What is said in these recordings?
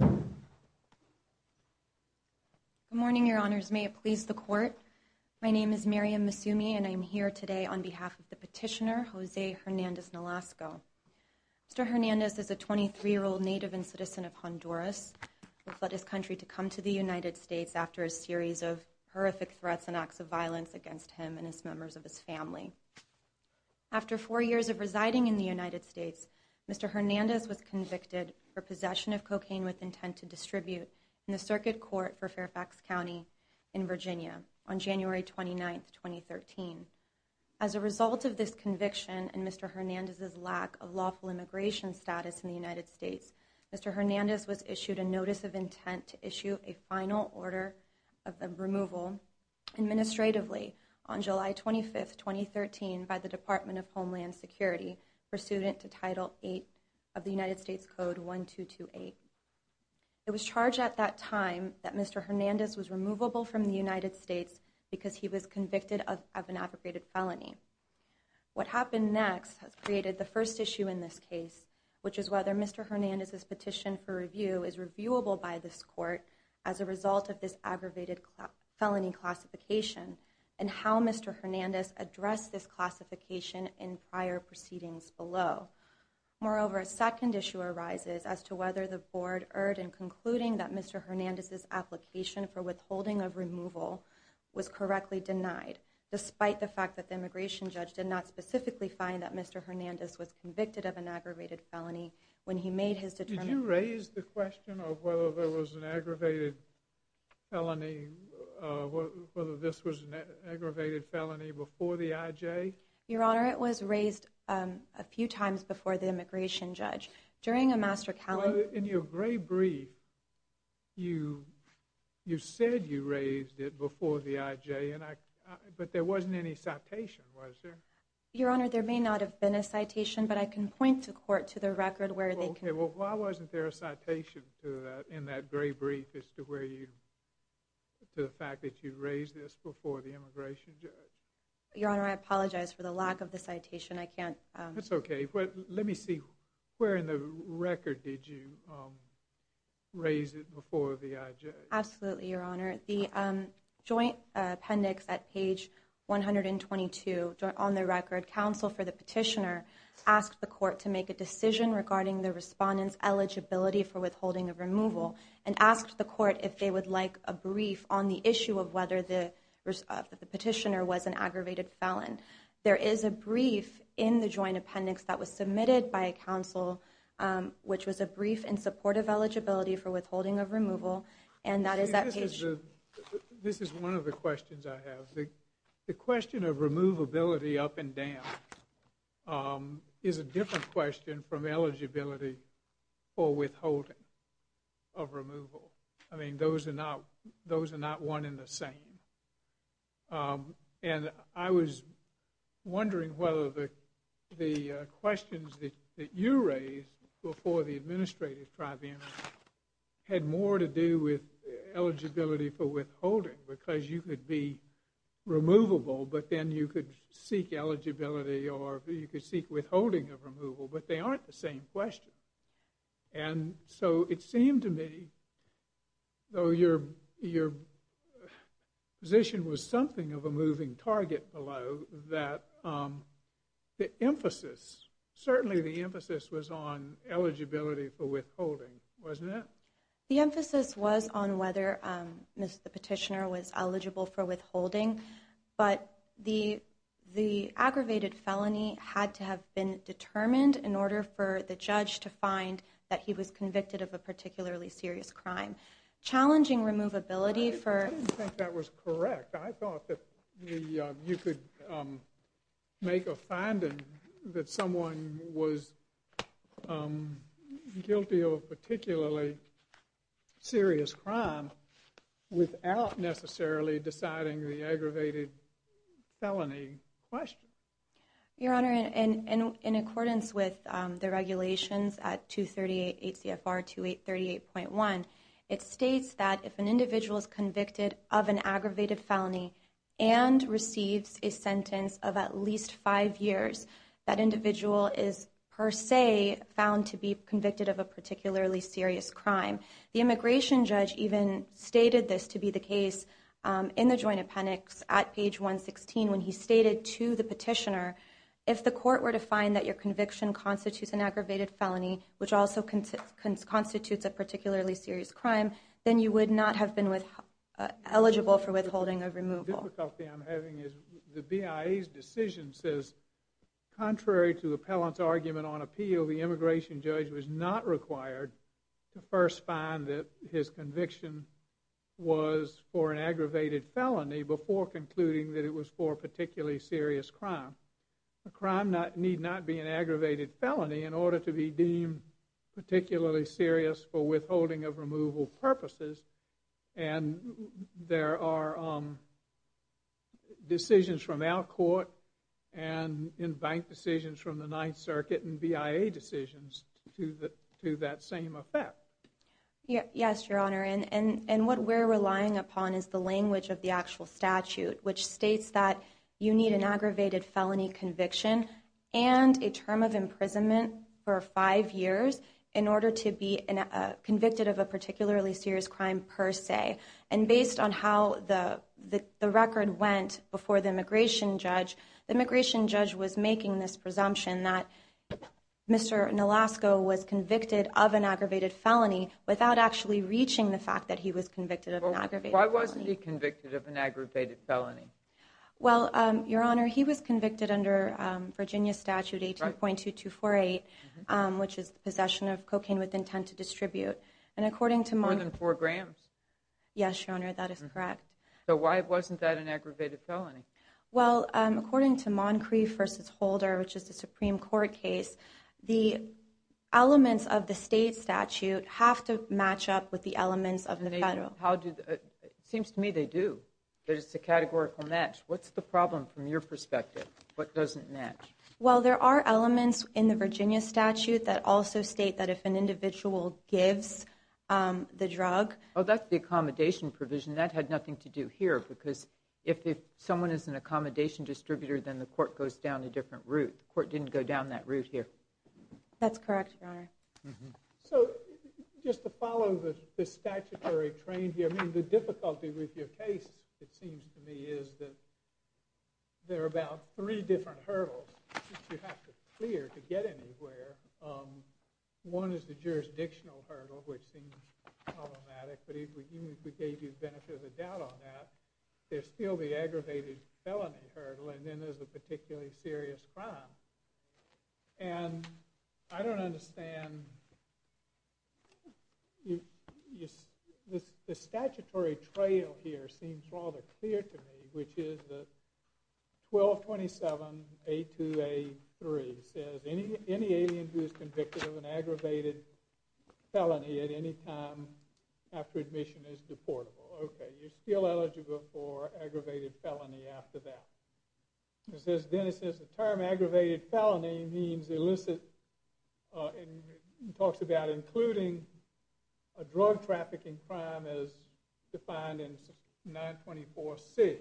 Good morning, your honors. May it please the court. My name is Miriam Masumi and I'm here today on behalf of the petitioner, Jose Hernandez-Nolasco. Mr. Hernandez is a 23-year-old native and citizen of Honduras, who fled his country to come to the United States after a series of horrific threats and acts of violence against him and his members of his family. After four years of residing in the United States, Mr. Hernandez was convicted for possession of cocaine with intent to distribute in the circuit court for Fairfax County in Virginia on January 29, 2013. As a result of this conviction and Mr. Hernandez's lack of lawful immigration status in the United States, Mr. Hernandez was issued a notice of intent to issue a final order of removal administratively on July 25, 2013 by the Department of Homeland Security pursuant to Title VIII of the United States Code 1228. It was charged at that time that Mr. Hernandez was removable from the United States because he was convicted of an abrogated felony. What happened next has created the first issue in this case, which is whether Mr. Hernandez's petition for review is reviewable by this court as a result of this aggravated felony classification and how Mr. Hernandez addressed this classification in prior proceedings below. Moreover, a second issue arises as to whether the board erred in concluding that Mr. Hernandez's application for withholding of removal was correctly denied, despite the fact that the immigration judge did not specifically find that Mr. Hernandez was convicted of an aggravated felony when he made his determination. Did you raise the question of whether there was an aggravated felony, whether this was an aggravated felony before the IJ? Your Honor, it was raised a few times before the immigration judge. During a master counseling... In your gray brief, you said you raised it before the IJ, but there wasn't any citation, was there? Your Honor, there may not have been a citation, but I can point the court to the record where they can... Okay, well, why wasn't there a citation to that in that gray brief as to where you... to the fact that you raised this before the immigration judge? Your Honor, I apologize for the lack of the citation. I can't... That's okay, but let me see, where in the record did you raise it before the IJ? Absolutely, Your Honor. The joint appendix asked the court to make a decision regarding the respondent's eligibility for withholding of removal and asked the court if they would like a brief on the issue of whether the petitioner was an aggravated felon. There is a brief in the joint appendix that was submitted by a counsel, which was a brief in support of eligibility for withholding of removal, and that is at page... This is one of the questions I have. The question of question from eligibility for withholding of removal. I mean, those are not... those are not one in the same, and I was wondering whether the questions that you raised before the administrative tribunal had more to do with eligibility for withholding, because you could be removable, but then you could seek eligibility or you could seek withholding of removal, but they aren't the same question. And so it seemed to me, though your position was something of a moving target below, that the emphasis, certainly the emphasis was on eligibility for withholding, wasn't it? The emphasis was on whether the petitioner was the aggravated felony had to have been determined in order for the judge to find that he was convicted of a particularly serious crime. Challenging removability for... without necessarily deciding the aggravated felony question. Your Honor, in accordance with the regulations at 238 ACFR 2838.1, it states that if an individual is convicted of an aggravated felony and receives a sentence of at least five years, that individual is per se found to be convicted of a particularly serious crime. The immigration judge even stated this to be the case in the joint appendix at page 116 when he stated to the petitioner, if the court were to find that your conviction constitutes an aggravated felony, which also constitutes a particularly serious crime, then you would not have been eligible for withholding of removal. The difficulty I'm having is the BIA's decision says, contrary to the appellant's argument on appeal, the immigration judge was not required to first find that his conviction was for an aggravated felony before concluding that it was for a particularly serious crime. A crime need not be an aggravated felony in order to be deemed particularly serious for withholding of removal purposes. And there are decisions from our court and in bank decisions from the Ninth Circuit and BIA decisions to that same effect. Yes, Your Honor. And what we're relying upon is the language of the actual statute, which states that you need an aggravated felony conviction and a term of imprisonment for five years in order to be convicted of a particularly serious crime per se. And based on how the record went before the immigration judge, the immigration judge was making this presumption that Mr. Nolasco was convicted of an aggravated felony without actually reaching the fact that he was convicted of an aggravated felony. Why wasn't he convicted of an aggravated felony? Well, Your Honor, he was convicted under Virginia Statute 18.2248, which is the possession of cocaine with intent to distribute. And according to Mon- More than four grams. Yes, Your Honor, that is correct. So why wasn't that an aggravated felony? Well, according to Moncrief v. Holder, which is the Supreme Court case, the elements of the state statute have to match up with the elements of the federal. It seems to me they do. It's a categorical match. What's the problem from your perspective? What doesn't match? Well, there are elements in the Virginia statute that also state that if an individual gives the drug- Oh, that's the accommodation provision. That had nothing to do here because if someone is an accommodation distributor, then the court goes down a different route. The court didn't go down that route here. That's correct, Your Honor. So just to follow the statutory train here, the difficulty with your case, it seems to me, is that there are about three different hurdles that you have to clear to get anywhere. One is the jurisdictional hurdle, which seems problematic, but even if we gave you the benefit of the doubt on that, there's still the aggravated felony hurdle, and then there's the particularly serious crime. And I don't understand. The statutory trail here seems rather clear to me, which is the 1227A2A3. It says any alien who is convicted of an aggravated felony at any time after admission is deportable. Okay, you're still eligible for aggravated felony after that. Then it says the term aggravated felony means illicit- it talks about including a drug trafficking crime as defined in 924C.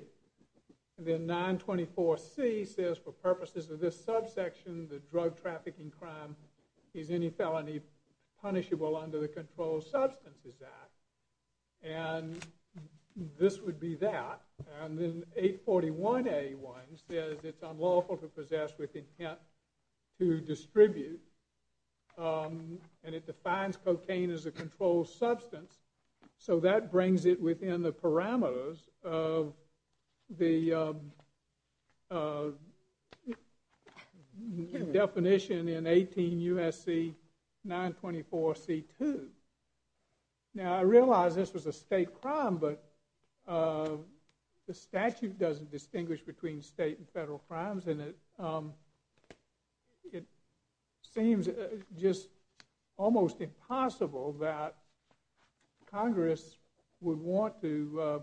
And then 924C says for purposes of this subsection, the drug trafficking crime is any felony punishable under the Controlled Substances Act, and this would be that. And then 841A1 says it's unlawful to possess with intent to distribute, and it defines cocaine as a controlled substance, so that brings it within the parameters of the definition in 18 U.S.C. 924C2. Now, I realize this was a state crime, but the statute doesn't distinguish between state and federal crimes, and it seems just almost impossible that Congress would want to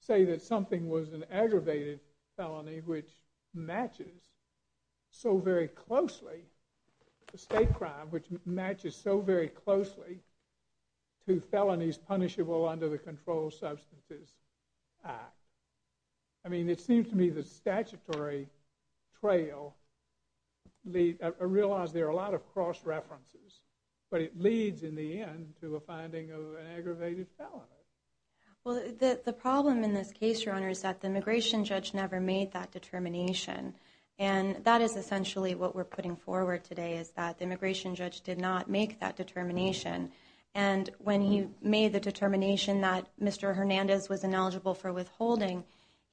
say that something was an aggravated felony, which matches so very closely to felonies punishable under the Controlled Substances Act. I mean, it seems to me the statutory trail- I realize there are a lot of cross-references, but it leads in the end to a finding of an aggravated felony. Well, the problem in this case, Your Honor, is that the immigration judge never made that determination. And that is essentially what we're putting forward today, is that the immigration judge did not make that determination. And when he made the determination that Mr. Hernandez was ineligible for withholding,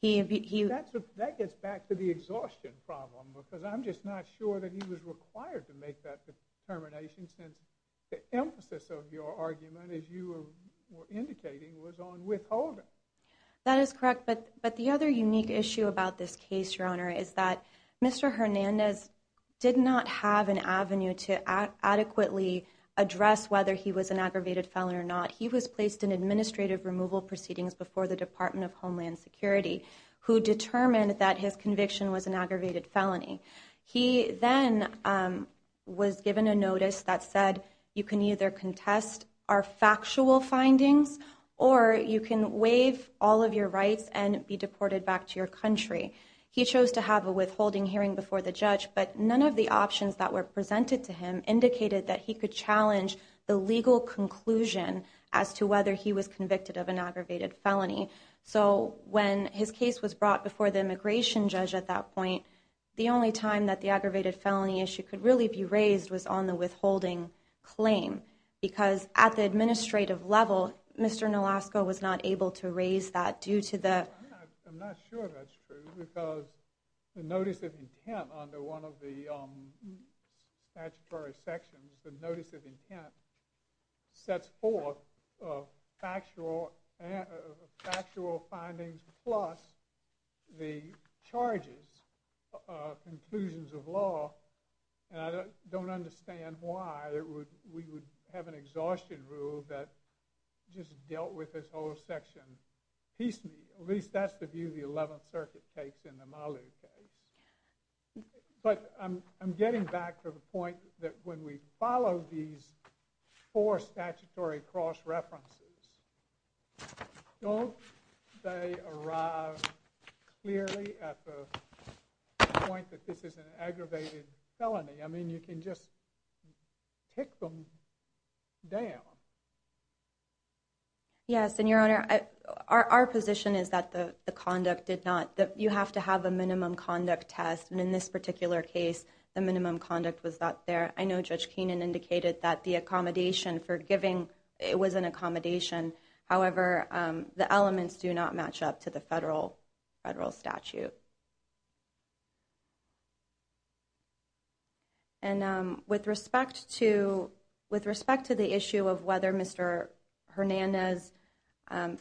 he- That gets back to the exhaustion problem, because I'm just not sure that he was required to make that determination, since the emphasis of your argument, as you were indicating, was on withholding. That is correct. But the other unique issue about this case, Your Honor, is that Mr. Hernandez did not have an avenue to adequately address whether he was an aggravated felon or not. He was placed in administrative removal proceedings before the Department of Homeland Security, who determined that his conviction was an aggravated felony. He then was given a notice that said, you can either contest our factual findings, or you can waive all of your rights and be deported back to your country. He chose to have a withholding hearing before the judge, but none of the options that were presented to him indicated that he could challenge the legal conclusion as to whether he was convicted of an aggravated felony. So when his case was brought before the immigration judge at that point, the only time that the aggravated felony issue could really be raised was on the withholding claim. Because at the administrative level, Mr. Nolasco was not able to raise that due to the- I'm not sure that's true, because the notice of intent under one of the statutory sections, the notice of intent, sets forth factual findings plus the charges, conclusions of law. And I don't understand why we would have an exhaustion rule that just dealt with this whole section piecemeal. At least that's the view the Eleventh Circuit takes in the Malu case. But I'm getting back to the point that when we follow these four statutory cross-references, don't they arrive clearly at the point that this is an aggravated felony? I mean, you can just tick them down. Yes, and Your Honor, our position is that the conduct did not- that you have to have a minimum conduct test. And in this particular case, the minimum conduct was not there. I know Judge Keenan indicated that the accommodation for giving- it was an accommodation. However, the elements do not match up to the federal statute. And with respect to- with respect to the issue of whether Mr. Hernandez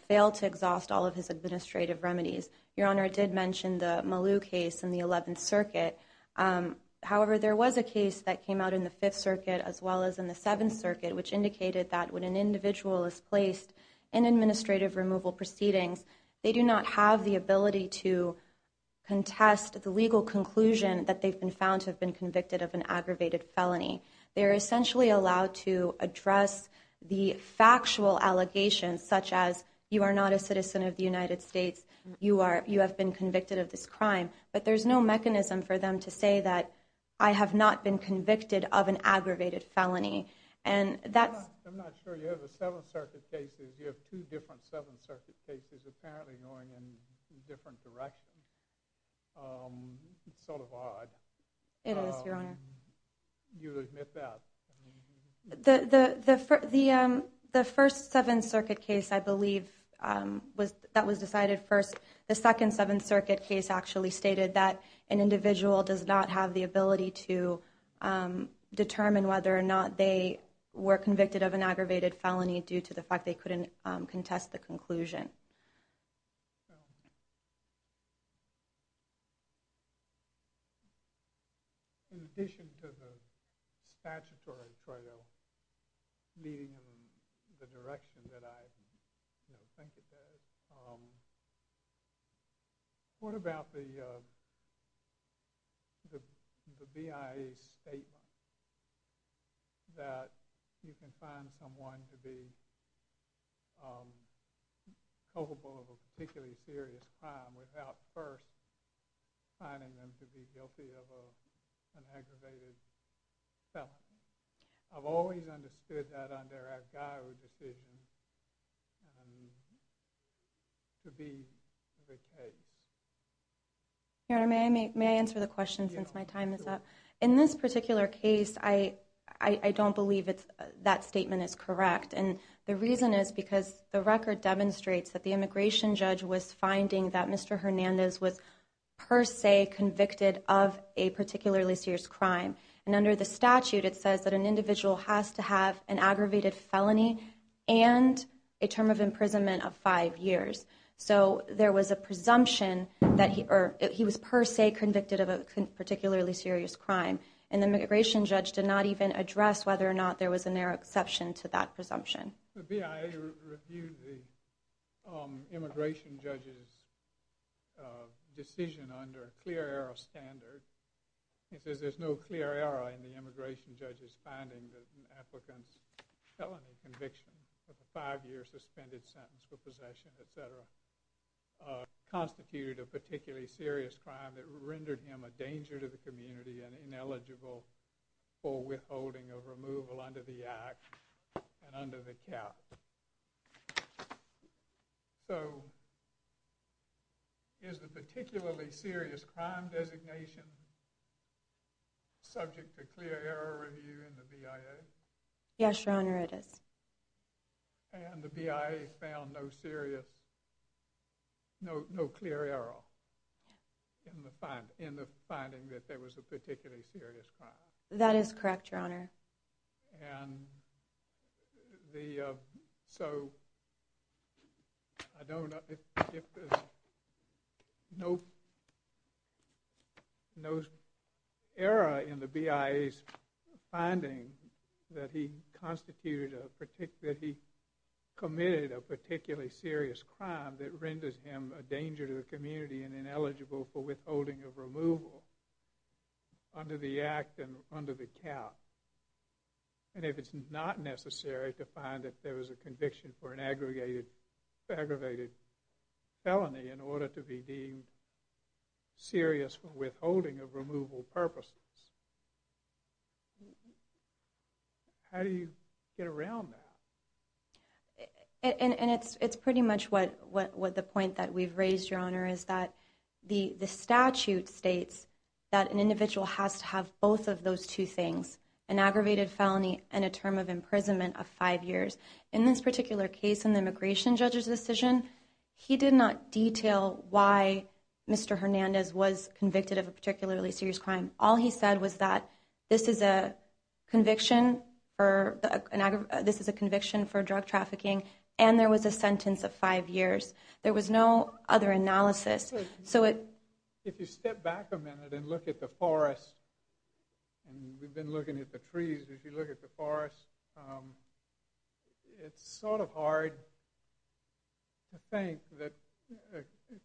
failed to exhaust all of his administrative remedies, Your Honor, I did mention the Malu case in the Eleventh Circuit. However, there was a case that came out in the Fifth Circuit as well as in the Seventh Circuit, which indicated that when an individual is placed in administrative removal proceedings, they do not have the ability to- contest the legal conclusion that they've been found to have been convicted of an aggravated felony. They're essentially allowed to address the factual allegations such as, you are not a citizen of the United States, you are- you have been convicted of this crime. But there's no mechanism for them to say that I have not been convicted of an aggravated felony. And that's- Well, you have the Seventh Circuit cases. You have two different Seventh Circuit cases apparently going in different directions. It's sort of odd. It is, Your Honor. You admit that. The first Seventh Circuit case, I believe, was- that was decided first. The second Seventh Circuit case actually stated that an individual does not have the ability to determine whether or not they were convicted of an aggravated felony due to the fact they couldn't contest the conclusion. Well, in addition to the statutory trial leading in the direction that I think it does, what about the BIA statement that you can find someone to be- culpable of a particularly serious crime without first finding them to be guilty of an aggravated felony? I've always understood that under our GAIO decision to be the case. Your Honor, may I answer the question since my time is up? In this particular case, I don't believe that statement is correct. And the reason is because the record demonstrates that the immigration judge was finding that Mr. Hernandez was per se convicted of a particularly serious crime. And under the statute, it says that an individual has to have an aggravated felony and a term of imprisonment of five years. So there was a presumption that he- or he was per se convicted of a particularly serious crime. And the immigration judge did not even address whether or not there was a narrow exception to that presumption. The BIA reviewed the immigration judge's decision under a clear error standard. It says there's no clear error in the immigration judge's finding that an applicant's felony conviction of a five-year suspended sentence for possession, et cetera, constituted a particularly serious crime that rendered him a danger to the community and ineligible for withholding of removal under the act and under the cap. So is the particularly serious crime designation subject to clear error review in the BIA? Yes, Your Honor, it is. And the BIA found no serious- no clear error in the finding that there was a particularly serious crime? That is correct, Your Honor. And the- so I don't- if there's no error in the BIA's finding that he constituted a- that he committed a particularly serious crime that renders him a danger to the community and ineligible for withholding of removal under the act and under the cap, and if it's not necessary to find that there was a conviction for an aggregated felony in order to be deemed serious for withholding of removal purposes, how do you get around that? And it's pretty much what the point that we've raised, Your Honor, is that the statute states that an individual has to have both of those two things, an aggravated felony and a term of imprisonment of five years. In this particular case, in the immigration judge's decision, he did not detail why Mr. Hernandez was convicted of a particularly serious crime. All he said was that this is a conviction for- this is a conviction for drug trafficking, and there was a sentence of five years. There was no other analysis. So it- If you step back a minute and look at the forest, and we've been looking at the trees. If you look at the forest, it's sort of hard to think that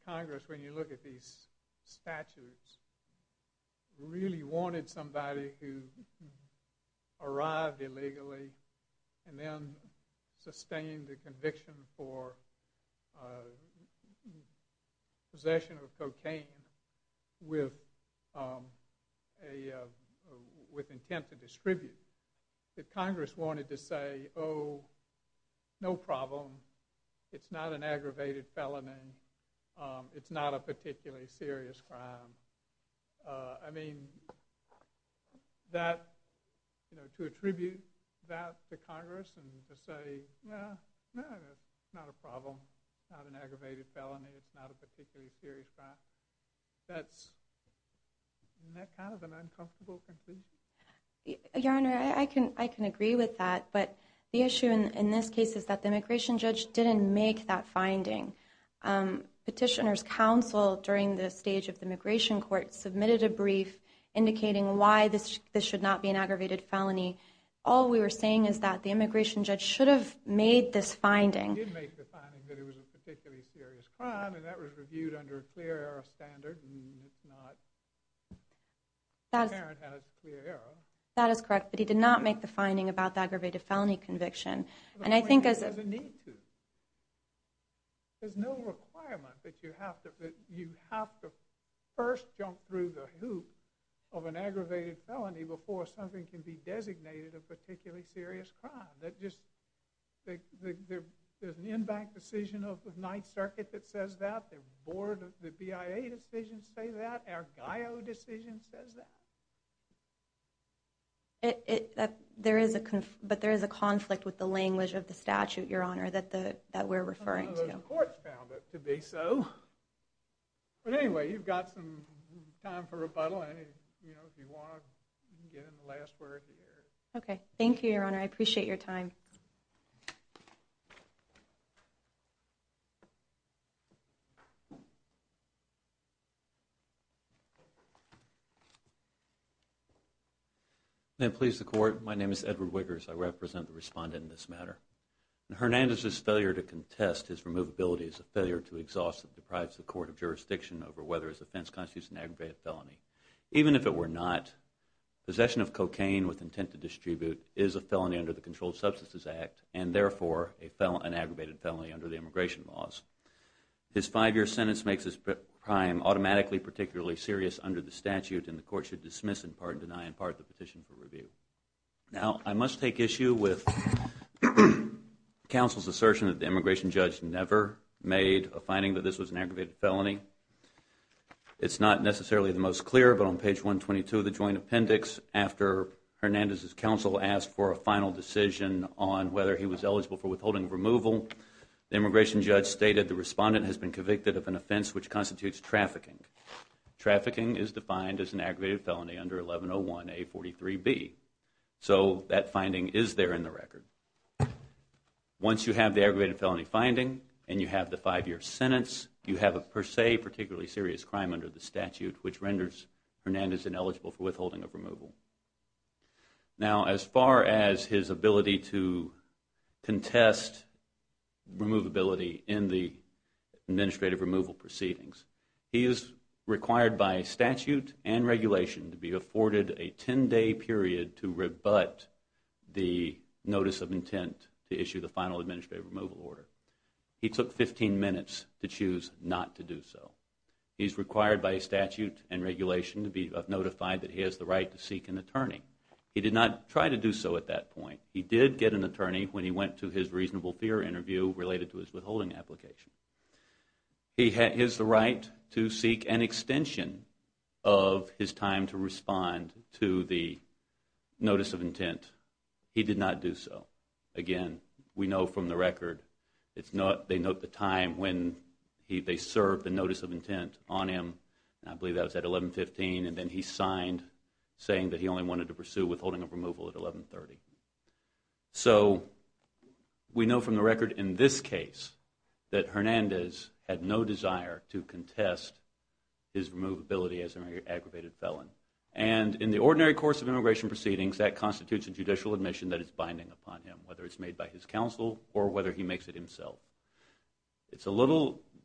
Congress, when you look at these statutes, really wanted somebody who arrived illegally and then sustained a conviction for possession of cocaine with intent to distribute. Congress wanted to say, oh, no problem. It's not an aggravated felony. It's not a particularly serious crime. I mean, that- to attribute that to Congress and to say, no, no, it's not a problem. It's not an aggravated felony. It's not a particularly serious crime. That's kind of an uncomfortable conclusion. Your Honor, I can agree with that. But the issue in this case is that the immigration judge didn't make that finding. Petitioner's counsel during the stage of the immigration court submitted a brief indicating why this should not be an aggravated felony. All we were saying is that the immigration judge should have made this finding. He did make the finding that it was a particularly serious crime, and that was reviewed under a clear error standard. And it's not- the parent has clear error. That is correct. But he did not make the finding about the aggravated felony conviction. And I think as- There's a need to. There's no requirement that you have to first jump through the hoop of an aggravated felony before something can be designated a particularly serious crime. There's an in-bank decision of the Ninth Circuit that says that. The BIA decisions say that. Our GAIO decision says that. There is a conflict with the language of the statute, Your Honor, that we're referring to. The courts found it to be so. But anyway, you've got some time for rebuttal. And if you want to, you can get in the last word here. Okay. Thank you, Your Honor. I appreciate your time. May it please the Court. My name is Edward Wiggers. I represent the respondent in this matter. Hernandez's failure to contest his removability is a failure to exhaust that deprives the court of jurisdiction over whether his offense constitutes an aggravated felony. Even if it were not, possession of cocaine with intent to distribute is a felony under the Controlled Substances Act and, therefore, an aggravated felony under the immigration laws. His five-year sentence makes this crime automatically particularly serious under the statute and the court should dismiss in part and deny in part the petition for review. Now, I must take issue with counsel's assertion that the immigration judge never made a finding that this was an aggravated felony. It's not necessarily the most clear, but on page 122 of the joint appendix, after Hernandez's counsel asked for a final decision on whether he was eligible for withholding removal, the immigration judge stated the respondent has been convicted of an offense which constitutes trafficking. Trafficking is defined as an aggravated felony under 1101A43B. So that finding is there in the record. Once you have the aggravated felony finding and you have the five-year sentence, you have a per se particularly serious crime under the statute, which renders Hernandez ineligible for withholding of removal. Now, as far as his ability to contest removability in the administrative removal proceedings, he is required by statute and regulation to be afforded a 10-day period to rebut the notice of intent to issue the final administrative removal order. He took 15 minutes to choose not to do so. He is required by statute and regulation to be notified that he has the right to seek an attorney. He did not try to do so at that point. He did get an attorney when he went to his reasonable fear interview related to his withholding application. He has the right to seek an extension of his time to respond to the notice of intent. He did not do so. Again, we know from the record, they note the time when they served the notice of intent on him. I believe that was at 1115 and then he signed saying that he only wanted to pursue withholding of removal at 1130. So we know from the record in this case that Hernandez had no desire to contest his removability as an aggravated felon. And in the ordinary course of immigration proceedings, that constitutes a judicial admission that is binding upon him, whether it's made by his counsel or whether he makes it himself.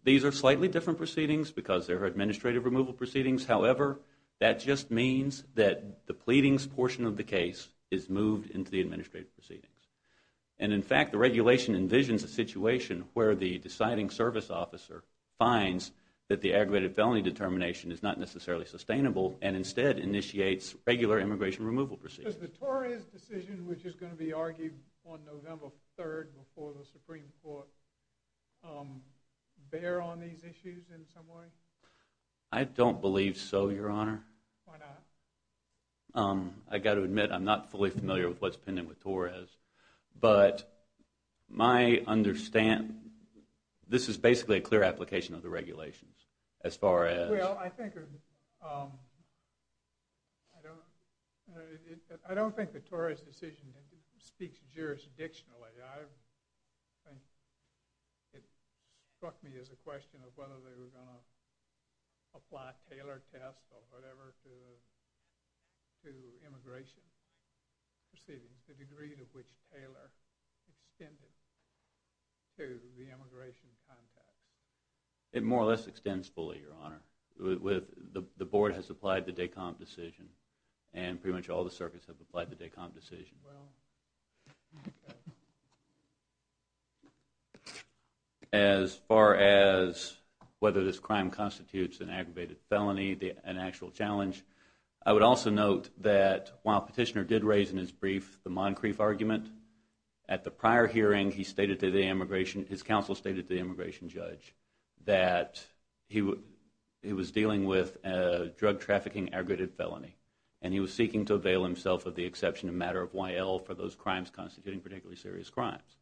These are slightly different proceedings because they're administrative removal proceedings. However, that just means that the pleadings portion of the case is moved into the administrative proceedings. And in fact, the regulation envisions a situation where the deciding service officer finds that the aggravated felony determination is not necessarily sustainable and instead initiates regular immigration removal proceedings. Does the Tories' decision, which is going to be argued on November 3rd before the Supreme Court, bear on these issues in some way? I don't believe so, Your Honor. Why not? I've got to admit, I'm not fully familiar with what's pending with Torres. But my understanding, this is basically a clear application of the regulations as far as... Well, I think, I don't think that Torres' decision speaks jurisdictionally. I think it struck me as a question of whether they were going to apply Taylor test or whatever to immigration proceedings, the degree to which Taylor extended to the immigration context. It more or less extends fully, Your Honor. The board has applied the DECOMP decision, and pretty much all the circuits have applied the DECOMP decision. Well... As far as whether this crime constitutes an aggravated felony, an actual challenge, I would also note that while Petitioner did raise in his brief the Moncrief argument, at the prior hearing, he stated to the immigration, his counsel stated to the immigration judge, that he was dealing with a drug trafficking aggravated felony. And he was seeking to avail himself of the exception of matter of Y.L. for those crimes constituting particularly serious crimes.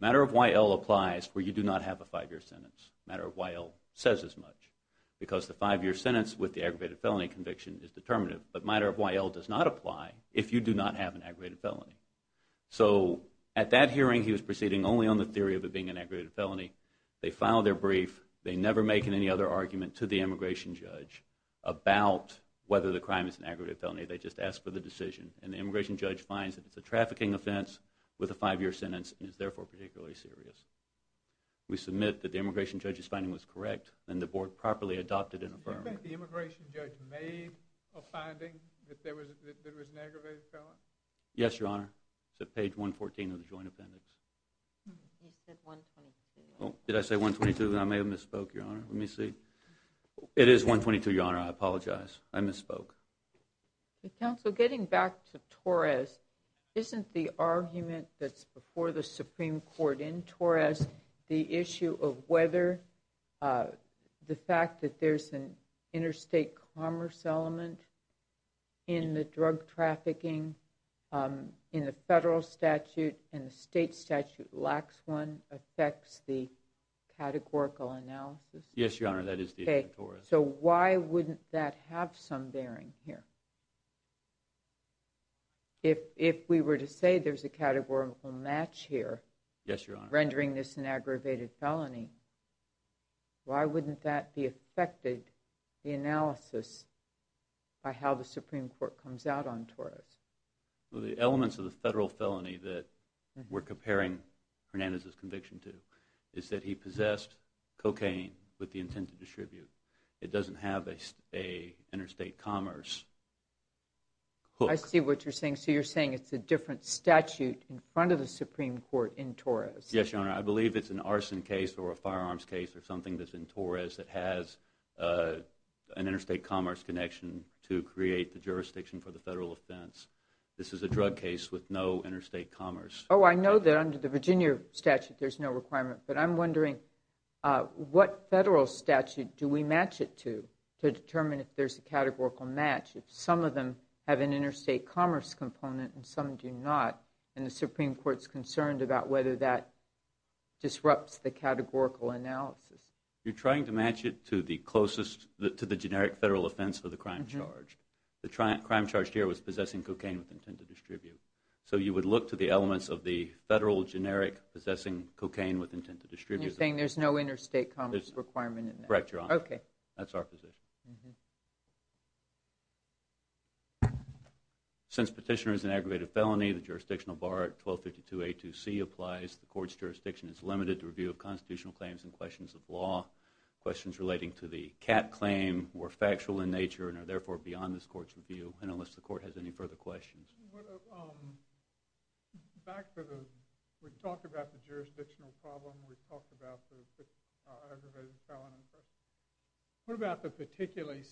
Matter of Y.L. applies where you do not have a five-year sentence. Matter of Y.L. says as much. Because the five-year sentence with the aggravated felony conviction is determinative. But matter of Y.L. does not apply if you do not have an aggravated felony. So at that hearing, he was proceeding only on the theory of it being an aggravated felony. They filed their brief. They never make any other argument to the immigration judge about whether the crime is an aggravated felony. They just ask for the decision. And the immigration judge finds that it's a trafficking offense with a five-year sentence, and is therefore particularly serious. We submit that the immigration judge's finding was correct, and the board properly adopted and affirmed. Did you make the immigration judge made a finding that there was an aggravated felony? Yes, Your Honor. It's at page 114 of the joint appendix. You said 122. Did I say 122? I may have misspoke, Your Honor. Let me see. It is 122, Your Honor. I apologize. I misspoke. Counsel, getting back to Torres, isn't the argument that's before the Supreme Court in Torres the issue of whether the fact that there's an interstate commerce element in the drug trafficking in the federal statute and the state statute lacks one affects the categorical analysis? Yes, Your Honor. That is the argument in Torres. So why wouldn't that have some bearing here? If we were to say there's a categorical match here, rendering this an aggravated felony, why wouldn't that be affected, the analysis, by how the Supreme Court comes out on Torres? The elements of the federal felony that we're comparing Hernandez's conviction to is that he possessed cocaine with the intent to distribute. It doesn't have an interstate commerce hook. I see what you're saying. So you're saying it's a different statute in front of the Supreme Court in Torres. Yes, Your Honor. I believe it's an arson case or a firearms case or something that's in Torres that has an interstate commerce connection to create the jurisdiction for the federal offense. This is a drug case with no interstate commerce. Oh, I know that under the Virginia statute there's no requirement, but I'm wondering what federal statute do we match it to to determine if there's a categorical match, if some of them have an interstate commerce component and some do not, and the Supreme Court's concerned about whether that disrupts the categorical analysis. You're trying to match it to the generic federal offense for the crime charge. The crime charge here was possessing cocaine with intent to distribute. So you would look to the elements of the federal generic possessing cocaine with intent to distribute. And you're saying there's no interstate commerce requirement in there? Correct, Your Honor. That's our position. Since petitioner is an aggravated felony, the jurisdictional bar 1252A2C applies. The court's jurisdiction is limited to review of constitutional claims and questions of law. Questions relating to the cat claim were factual in nature and are therefore beyond this court's review, and unless the court has any further questions. Back to the we talked about the jurisdictional problem, we talked about the aggravated felony. What about the particularly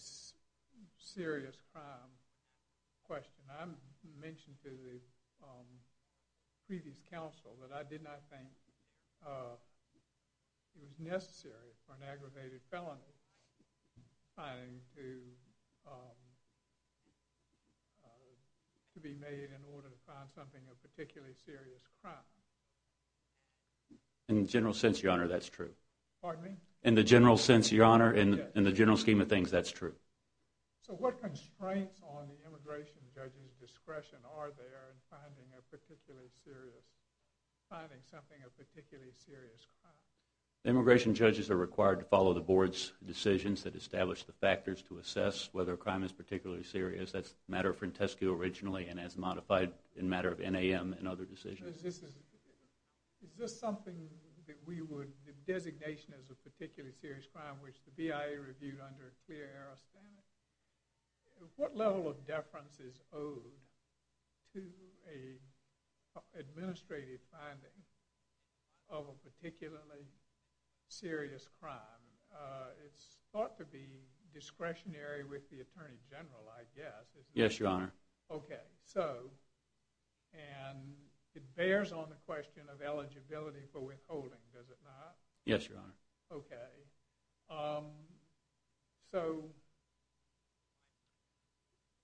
serious crime question? I mentioned to the previous counsel that I did not think it was necessary for an aggravated felony to be made in order to find something of particularly serious crime. In the general sense, Your Honor, that's true. Pardon me? In the general sense, Your Honor, in the general scheme of things, that's true. So what constraints on the immigration judge's discretion are there in finding something of particularly serious crime? Immigration judges are required to follow the board's decisions that establish the factors to assess whether a crime is particularly serious. That's the matter of Frentescue originally and as modified in matter of NAM and other decisions. Is this something that we would, the designation as a particularly serious crime, which the BIA reviewed under a clear era standard? What level of deference is owed to an administrative finding of a particularly serious crime? It's thought to be discretionary with the Attorney General, I guess. Yes, Your Honor. Okay. And it bears on the question of eligibility for withholding, does it not? Yes, Your Honor. Okay. So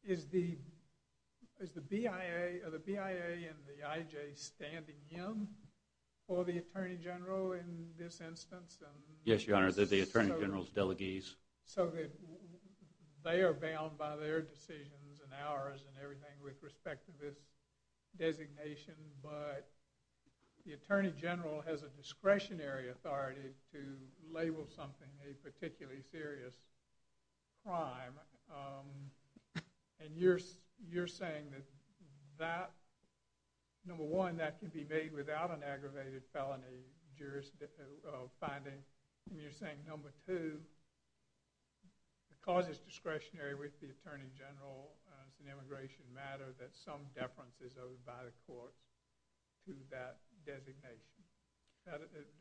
is the BIA and the IJ standing in for the Attorney General in this instance? Yes, Your Honor. They're the Attorney General's delegees. So they are bound by their decisions and ours and everything with respect to this designation, but the Attorney General has a discretionary authority to label something a particularly serious crime. And you're saying that, number one, that can be made without an aggravated felony jury's finding. And you're saying, number two, the cause is discretionary with the Attorney General. It's an immigration matter that some deference is owed by the courts to that designation.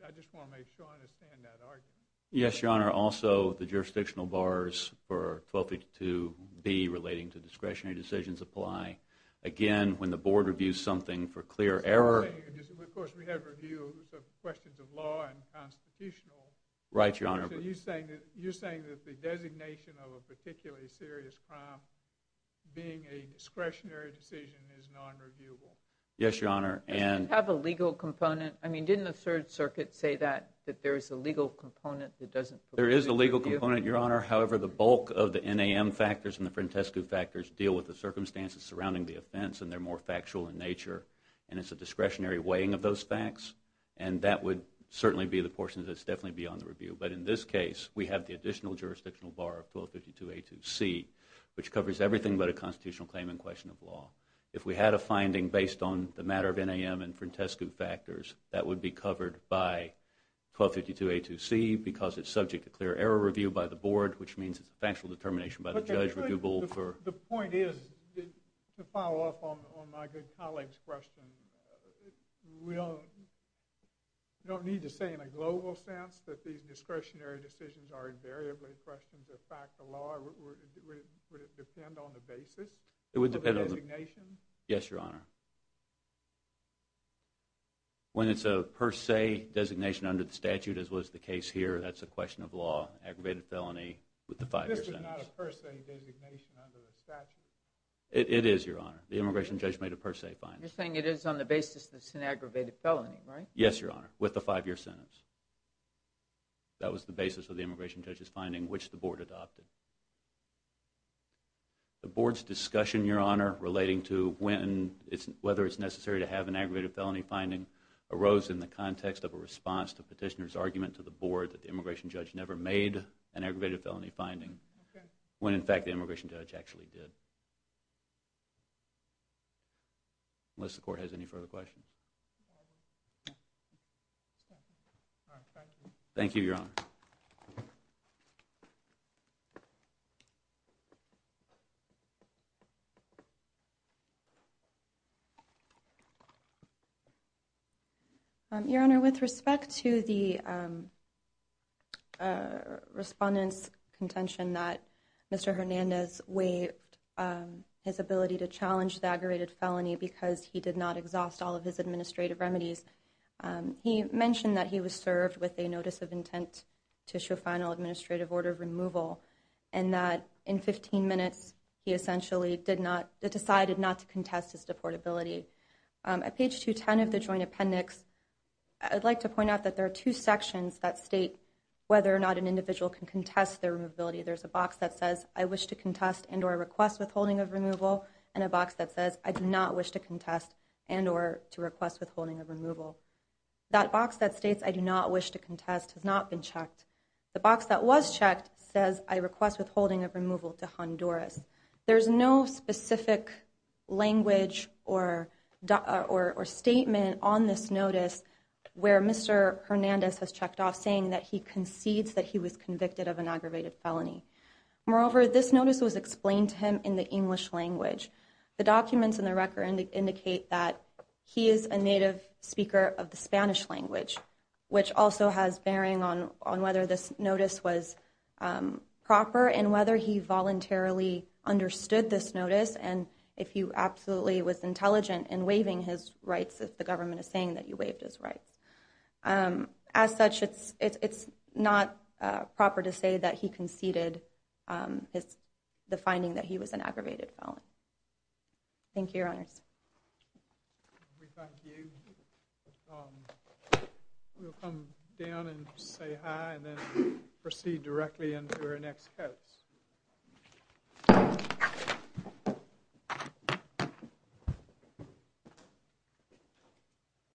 I just want to make sure I understand that argument. Yes, Your Honor. Also, the jurisdictional bars for 1282B relating to discretionary decisions apply. Again, when the board reviews something for clear error. Of course, we have reviews of questions of law and constitutional. Right, Your Honor. So you're saying that the designation of a particularly serious crime being a discretionary decision is non-reviewable. Yes, Your Honor. Does it have a legal component? I mean, didn't the Third Circuit say that, that there is a legal component that doesn't? There is a legal component, Your Honor. However, the bulk of the NAM factors and the Frentescu factors deal with the circumstances surrounding the offense and they're more factual in nature. And it's a discretionary weighing of those facts. And that would certainly be the portion that's definitely beyond the review. But in this case, we have the additional jurisdictional bar of 1252A2C, which covers everything but a constitutional claim in question of law. If we had a finding based on the matter of NAM and Frentescu factors, that would be covered by 1252A2C because it's subject to clear error review by the board, which means it's a factual determination by the judge. The point is, to follow up on my good colleague's question, we don't need to say in a global sense that these discretionary decisions are invariably questions of fact of law. Would it depend on the basis of the designation? Yes, Your Honor. When it's a per se designation under the statute, as was the case here, that's a question of law. Aggravated felony with the five-year sentence. This is not a per se designation under the statute. It is, Your Honor. The immigration judge made a per se finding. You're saying it is on the basis that it's an aggravated felony, right? Yes, Your Honor, with the five-year sentence. That was the basis of the immigration judge's finding, which the board adopted. The board's discussion, Your Honor, relating to whether it's necessary to have an aggravated felony finding, arose in the context of a response to the petitioner's argument to the board that the immigration judge never made an aggravated felony finding, when, in fact, the immigration judge actually did. Unless the court has any further questions. Thank you, Your Honor. Your Honor, with respect to the respondent's contention that Mr. Hernandez waived his ability to challenge the aggravated felony because he did not exhaust all of his administrative remedies, he mentioned that he was served with a notice of intent to show final administrative order of removal and that in 15 minutes he essentially decided not to contest his deportability. At page 210 of the joint appendix, I'd like to point out that there are two sections that state whether or not an individual can contest their removability. There's a box that says, I wish to contest and or request withholding of removal, and a box that says, I do not wish to contest and or to request withholding of removal. That box that states, I do not wish to contest, has not been checked. The box that was checked says, I request withholding of removal to Honduras. There's no specific language or statement on this notice where Mr. Hernandez has checked off saying that he concedes that he was convicted of an aggravated felony. Moreover, this notice was explained to him in the English language. The documents in the record indicate that he is a native speaker of the Spanish language, which also has bearing on whether this notice was proper and whether he voluntarily understood this notice and if he absolutely was intelligent in waiving his rights, if the government is saying that he waived his rights. As such, it's not proper to say that he conceded the finding that he was an aggravated felon. Thank you, Your Honors. We thank you. We'll come down and say hi and then proceed directly into our next case.